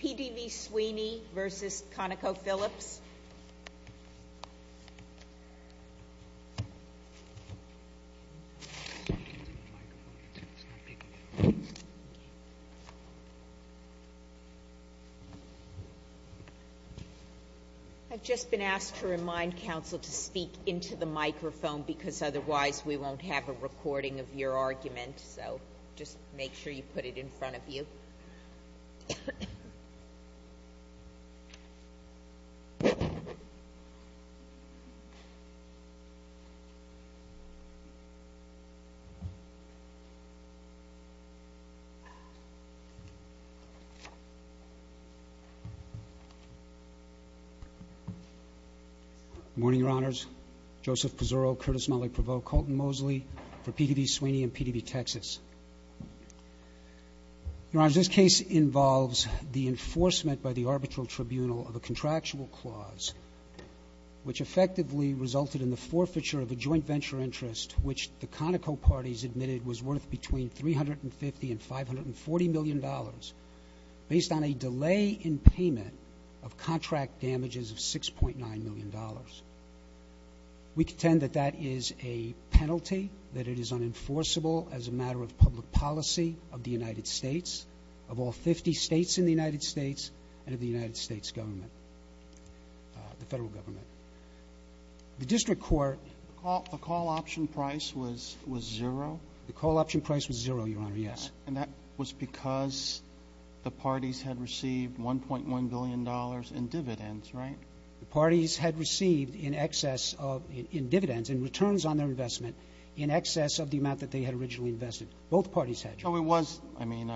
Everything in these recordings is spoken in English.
PDV Sweeny v. ConocoPhilips. I've just been asked to remind counsel to speak into the microphone because otherwise we won't have a recording of your argument. So just make sure you put it in front of you. Good morning, Your Honors. Joseph Pizzurro, Curtis Mulley Prevot, Colton Mosley for PDV Sweeny and PDV Texas. Your Honors, this case involves the enforcement by the arbitral tribunal of a contractual clause which effectively resulted in the forfeiture of a joint venture interest which the Conoco parties admitted was worth between $350 and $540 million based on a delay in payment of contract damages of $6.9 million. We contend that that is a penalty, that it is unenforceable as a matter of public policy of the United States, of all 50 states in the United States, and of the United States government, the federal government. The district court The call option price was zero? The call option price was zero, Your Honor, yes. And that was because the parties had received $1.1 billion in dividends, right? The parties had received in excess of, in dividends, in returns on their investment, in excess of the amount that they had originally invested. Both parties had. So it was, I mean,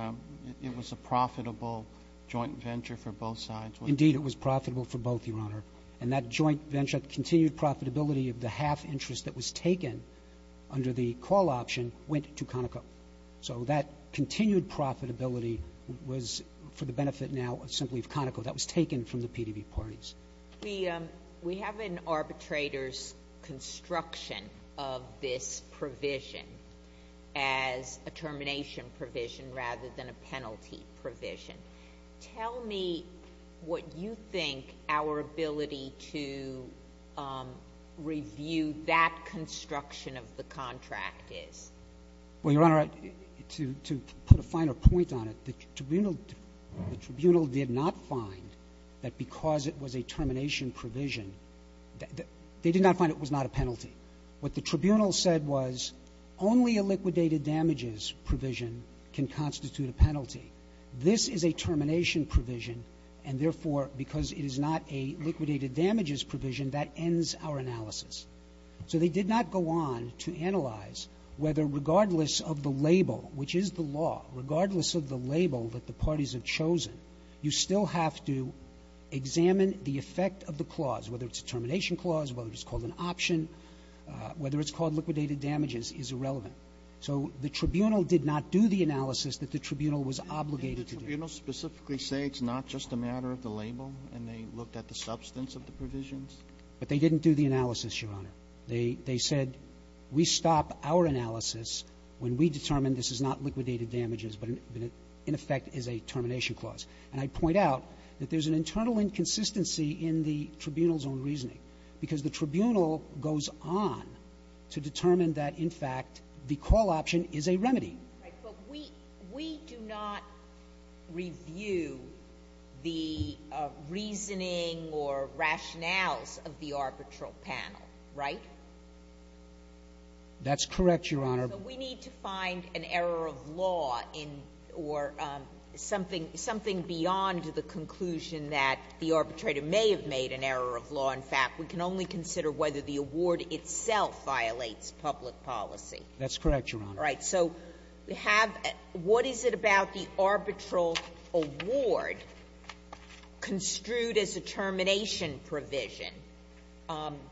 it was a profitable joint venture for both sides? Indeed, it was profitable for both, Your Honor. And that joint venture continued profitability of the half interest that was taken under the call option went to Conoco. So that continued profitability was for the benefit now simply of Conoco. That was taken from the PDB parties. We have an arbitrator's construction of this provision as a termination provision rather than a penalty provision. Tell me what you think our ability to review that construction of the contract is. Well, Your Honor, to put a finer point on it, the tribunal did not find that because it was a termination provision, they did not find it was not a penalty. What the tribunal said was only a liquidated damages provision can constitute a penalty. This is a termination provision, and, therefore, because it is not a liquidated damages provision, that ends our analysis. So they did not go on to analyze whether regardless of the label, which is the law, regardless of the label that the parties have chosen, you still have to examine the effect of the clause, whether it's a termination clause, whether it's called an option, whether it's called liquidated damages is irrelevant. So the tribunal did not do the analysis that the tribunal was obligated to do. Did the tribunal specifically say it's not just a matter of the label and they looked at the substance of the provisions? But they didn't do the analysis, Your Honor. They said we stop our analysis when we determine this is not liquidated damages, but in effect is a termination clause. And I point out that there's an internal inconsistency in the tribunal's own reasoning, because the tribunal goes on to determine that, in fact, the call option is a remedy. But we do not review the reasoning or rationales of the arbitral panel, right? That's correct, Your Honor. So we need to find an error of law or something beyond the conclusion that the arbitrator may have made an error of law. In fact, we can only consider whether the award itself violates public policy. That's correct, Your Honor. All right. So we have what is it about the arbitral award construed as a termination provision,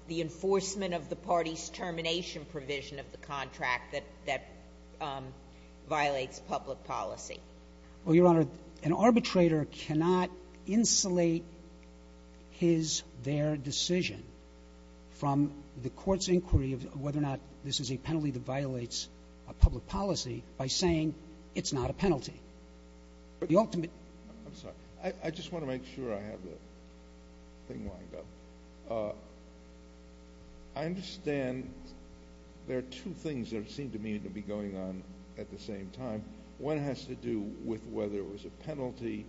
the enforcement of the party's termination provision of the contract that violates public policy? Well, Your Honor, an arbitrator cannot insulate his, their decision from the court's a public policy by saying it's not a penalty. The ultimate ---- I'm sorry. I just want to make sure I have the thing lined up. I understand there are two things that seem to me to be going on at the same time. One has to do with whether it was a penalty.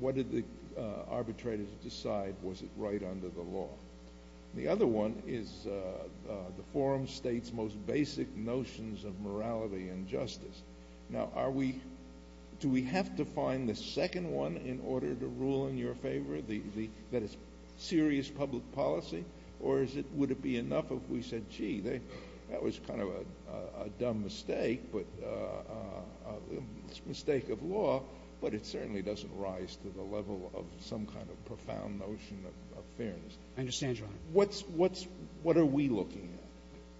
What did the arbitrator decide? Was it right under the law? The other one is the forum state's most basic notions of morality and justice. Now, are we, do we have to find the second one in order to rule in your favor, that it's serious public policy? Or would it be enough if we said, gee, that was kind of a dumb mistake, a mistake of law, but it certainly doesn't rise to the level of some kind of profound notion of fairness. I understand, Your Honor. What are we looking at?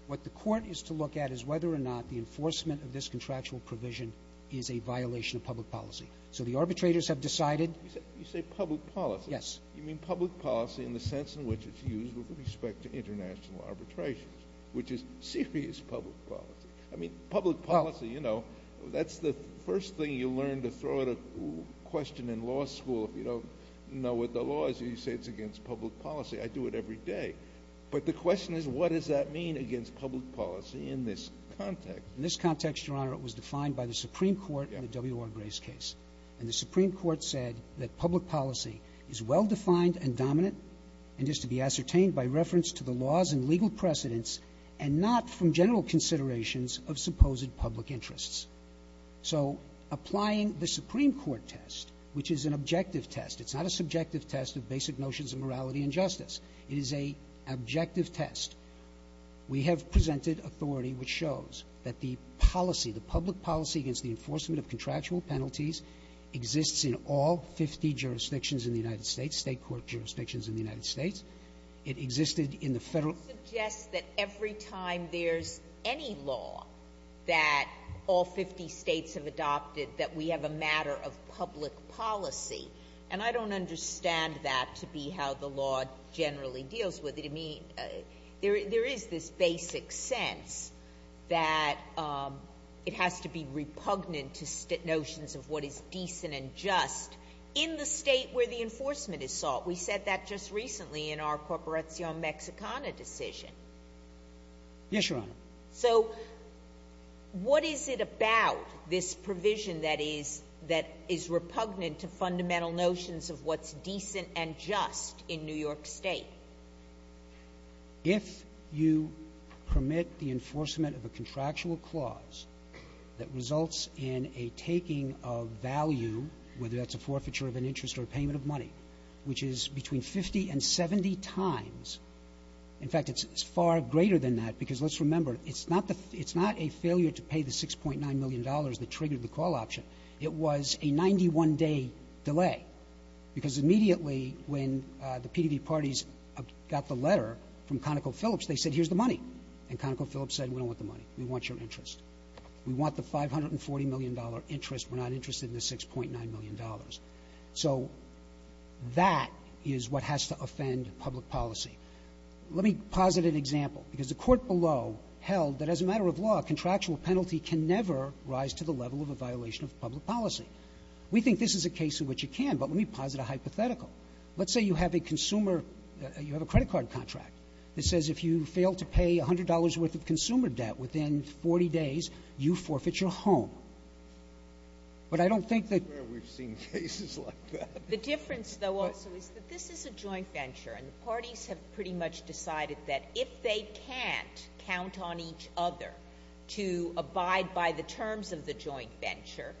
What the court is to look at is whether or not the enforcement of this contractual provision is a violation of public policy. So the arbitrators have decided ---- You say public policy. Yes. You mean public policy in the sense in which it's used with respect to international arbitration, which is serious public policy. I mean, public policy, you know, that's the first thing you learn to throw at a question in law school. If you don't know what the law is, you say it's against public policy. I do it every day. But the question is, what does that mean against public policy in this context? In this context, Your Honor, it was defined by the Supreme Court in the W.R. Gray's case. And the Supreme Court said that public policy is well-defined and dominant and is to be ascertained by reference to the laws and legal precedents and not from general considerations of supposed public interests. So applying the Supreme Court test, which is an objective test. It's not a subjective test of basic notions of morality and justice. It is an objective test. We have presented authority which shows that the policy, the public policy against the enforcement of contractual penalties exists in all 50 jurisdictions in the United States, State court jurisdictions in the United States. It existed in the Federal ---- It suggests that every time there's any law that all 50 states have adopted, that we have a matter of public policy. And I don't understand that to be how the law generally deals with it. I mean, there is this basic sense that it has to be repugnant to notions of what is decent and just in the state where the enforcement is sought. We said that just recently in our Corporacion Mexicana decision. Yes, Your Honor. So what is it about this provision that is repugnant to fundamental notions of what's decent and just in New York State? If you permit the enforcement of a contractual clause that results in a taking of value, whether that's a forfeiture of an interest or payment of money, which is between 50 and 70 times. In fact, it's far greater than that because let's remember, it's not a failure to pay the $6.9 million that triggered the call option. It was a 91-day delay because immediately when the PDV parties got the letter from ConocoPhillips, they said, here's the money. And ConocoPhillips said, we don't want the money. We want your interest. We want the $540 million interest. We're not interested in the $6.9 million. So that is what has to offend public policy. Let me posit an example. Because the court below held that as a matter of law, a contractual penalty can never rise to the level of a violation of public policy. We think this is a case in which it can, but let me posit a hypothetical. Let's say you have a consumer, you have a credit card contract that says if you fail to pay $100 worth of consumer debt within 40 days, you forfeit your home. But I don't think that we've seen cases like that. The difference, though, also is that this is a joint venture, and the parties have pretty much decided that if they can't count on each other to abide by the terms of the joint venture,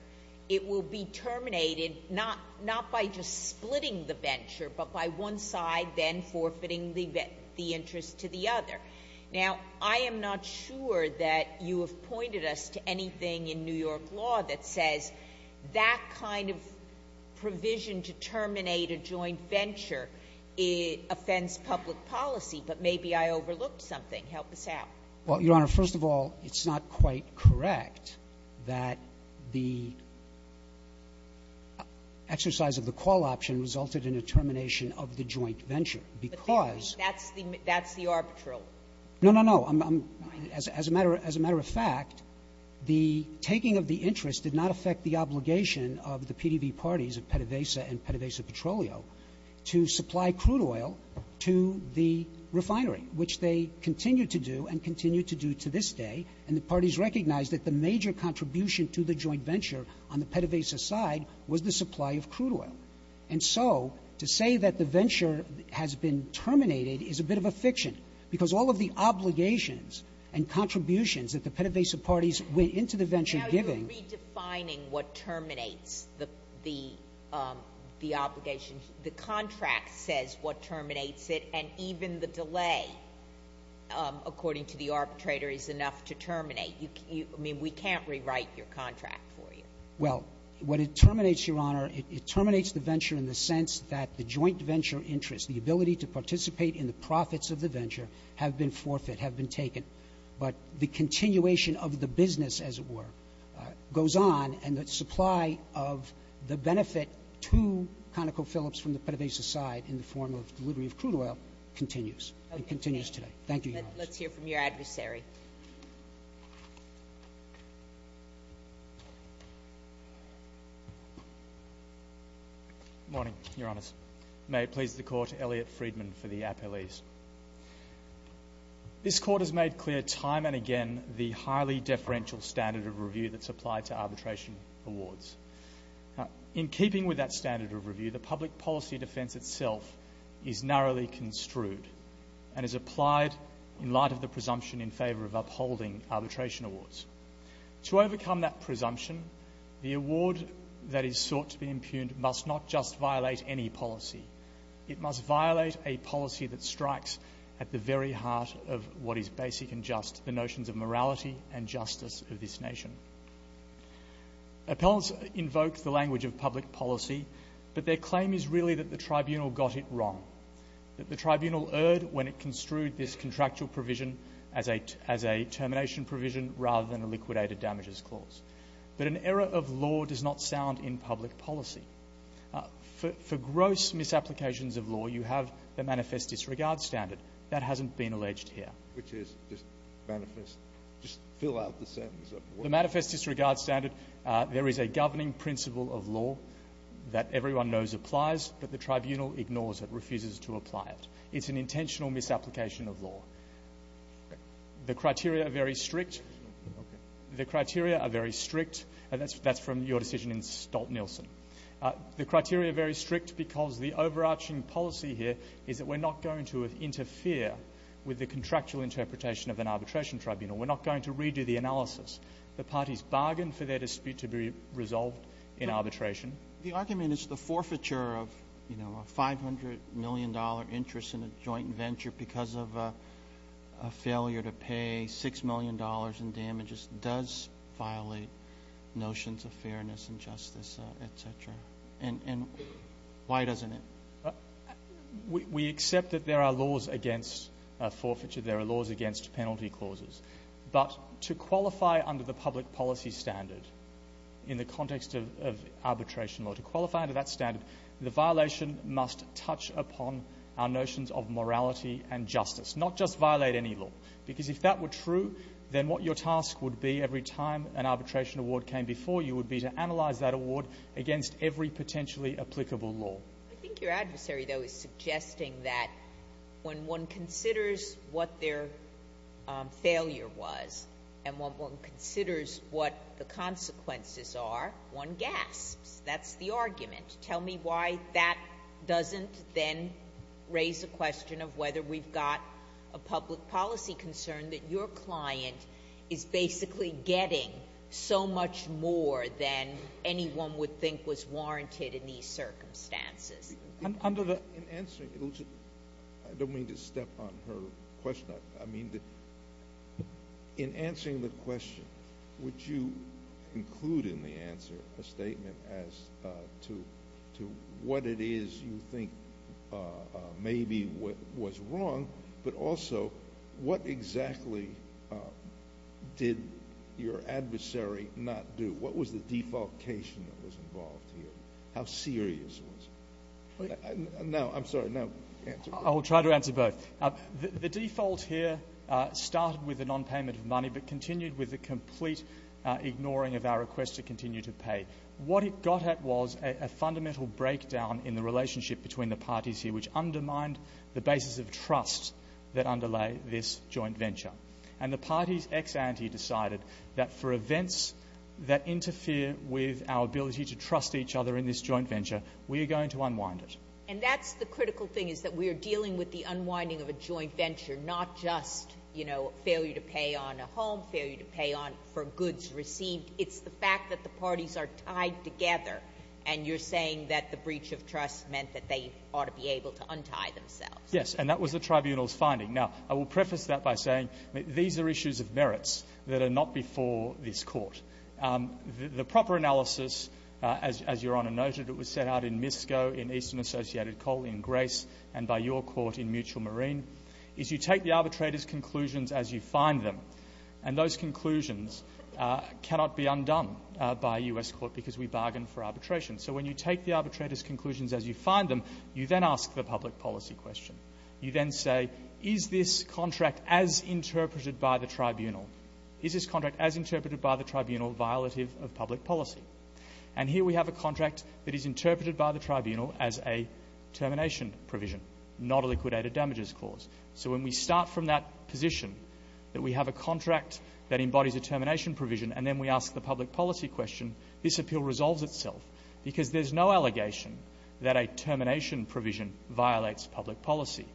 it will be terminated not by just splitting the venture, but by one side then forfeiting the interest to the other. Now, I am not sure that you have pointed us to anything in New York law that says that kind of provision to terminate a joint venture offends public policy. But maybe I overlooked something. Help us out. Well, Your Honor, first of all, it's not quite correct that the exercise of the call option resulted in a termination of the joint venture, because the joint venture No, no, no. As a matter of fact, the taking of the interest did not affect the obligation of the PDV parties of PDVSA and PDVSA Petroleum to supply crude oil to the refinery, which they continue to do and continue to do to this day. And the parties recognized that the major contribution to the joint venture on the PDVSA side was the supply of crude oil. And so to say that the venture has been terminated is a bit of a fiction, because all of the obligations and contributions that the PDVSA parties went into the venture giving Now you're redefining what terminates the obligation. The contract says what terminates it, and even the delay, according to the arbitrator, is enough to terminate. I mean, we can't rewrite your contract for you. Well, what it terminates, Your Honor, it terminates the venture in the sense that the joint venture interest, the ability to participate in the profits of the venture, have been forfeit, have been taken. But the continuation of the business, as it were, goes on, and the supply of the benefit to ConocoPhillips from the PDVSA side in the form of delivery of crude oil continues and continues today. Thank you, Your Honor. Let's hear from your adversary. Good morning, Your Honor. May it please the Court, Elliot Friedman for the appellees. This Court has made clear time and again the highly deferential standard of review that's applied to arbitration awards. In keeping with that standard of review, the public policy defense itself is narrowly construed and is applied in light of the presumption in favor of upholding arbitration awards. To overcome that presumption, the award that is sought to be impugned must not just violate any policy. It must violate a policy that strikes at the very heart of what is basic and just, the notions of morality and justice of this nation. Appellants invoke the language of public policy, but their claim is really that the tribunal got it wrong, that the tribunal erred when it construed this contractual provision as a termination provision rather than a liquidated damages clause. But an error of law does not sound in public policy. For gross misapplications of law, you have the manifest disregard standard. That hasn't been alleged here. Which is just manifest, just fill out the sentence of law. The manifest disregard standard, there is a governing principle of law that everyone knows applies, but the tribunal ignores it, refuses to apply it. It's an intentional misapplication of law. The criteria are very strict. The criteria are very strict, and that's from your decision in Stolt-Nielsen. The criteria are very strict because the overarching policy here is that we're not going to interfere with the contractual interpretation of an arbitration tribunal. We're not going to redo the analysis. The parties bargain for their dispute to be resolved in arbitration. The argument is the forfeiture of, you know, a $500 million interest in a joint venture because of a failure to pay $6 million in damages does violate notions of fairness and justice, et cetera. And why doesn't it? We accept that there are laws against forfeiture. There are laws against penalty clauses. But to qualify under the public policy standard in the context of arbitration law, to qualify under that standard, the violation must touch upon our notions of morality and justice, not just violate any law. Because if that were true, then what your task would be every time an arbitration award came before you would be to analyze that award against every potentially applicable law. I think your adversary, though, is suggesting that when one considers what their failure was and one considers what the consequences are, one gasps. That's the argument. Tell me why that doesn't then raise the question of whether we've got a public policy concern that your client is basically getting so much more than anyone would think was warranted in these circumstances. I don't mean to step on her question. I mean, in answering the question, would you include in the answer a statement as to what it is you think maybe was wrong, but also what exactly did your adversary not do? What was the defalcation that was involved here? How serious was it? No, I'm sorry. Now answer both. I will try to answer both. The default here started with a nonpayment of money but continued with a complete ignoring of our request to continue to pay. What it got at was a fundamental breakdown in the relationship between the parties here which undermined the basis of trust that underlay this joint venture. And the parties ex ante decided that for events that interfere with our ability to continue this joint venture, we are going to unwind it. And that's the critical thing is that we are dealing with the unwinding of a joint venture, not just, you know, failure to pay on a home, failure to pay on for goods received. It's the fact that the parties are tied together, and you're saying that the breach of trust meant that they ought to be able to untie themselves. Yes, and that was the tribunal's finding. Now, I will preface that by saying these are issues of merits that are not before this Court. The proper analysis, as Your Honor noted, it was set out in MISCO, in Eastern Associated Coal, in Grace, and by your Court in Mutual Marine, is you take the arbitrator's conclusions as you find them. And those conclusions cannot be undone by U.S. Court because we bargain for arbitration. So when you take the arbitrator's conclusions as you find them, you then ask the public policy question. You then say, is this contract as interpreted by the tribunal? Is this contract as interpreted by the tribunal violative of public policy? And here we have a contract that is interpreted by the tribunal as a termination provision, not a liquidated damages clause. So when we start from that position, that we have a contract that embodies a termination provision, and then we ask the public policy question, this appeal resolves itself because there's no allegation that a termination provision violates public policy.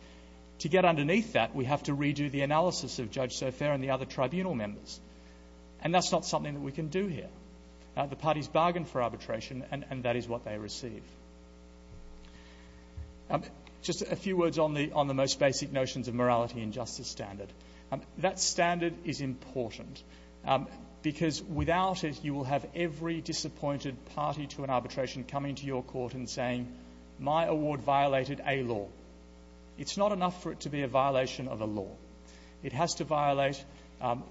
To get underneath that, we have to redo the analysis of Judge Sofair and the other tribunal members. And that's not something that we can do here. The parties bargain for arbitration, and that is what they receive. Just a few words on the most basic notions of morality and justice standard. That standard is important because without it, you will have every disappointed party to an arbitration coming to your court and saying, my award violated a law. It has to violate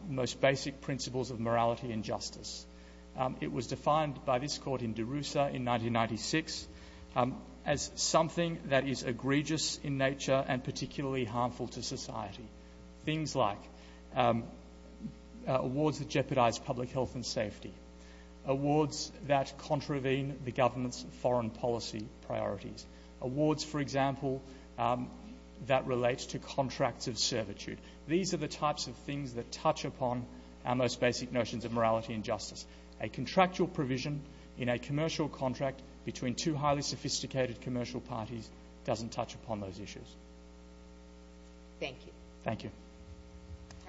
most basic principles of morality and justice. It was defined by this court in Darussa in 1996 as something that is egregious in nature and particularly harmful to society. Things like awards that jeopardize public health and safety, awards that contravene the government's foreign policy priorities, awards, for example, that relates to contracts of servitude. These are the types of things that touch upon our most basic notions of morality and justice. A contractual provision in a commercial contract between two highly sophisticated commercial parties doesn't touch upon those issues. Thank you. Thank you.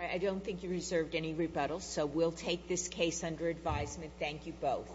I don't think you reserved any rebuttals, so we'll take this case under advisement. Thank you both.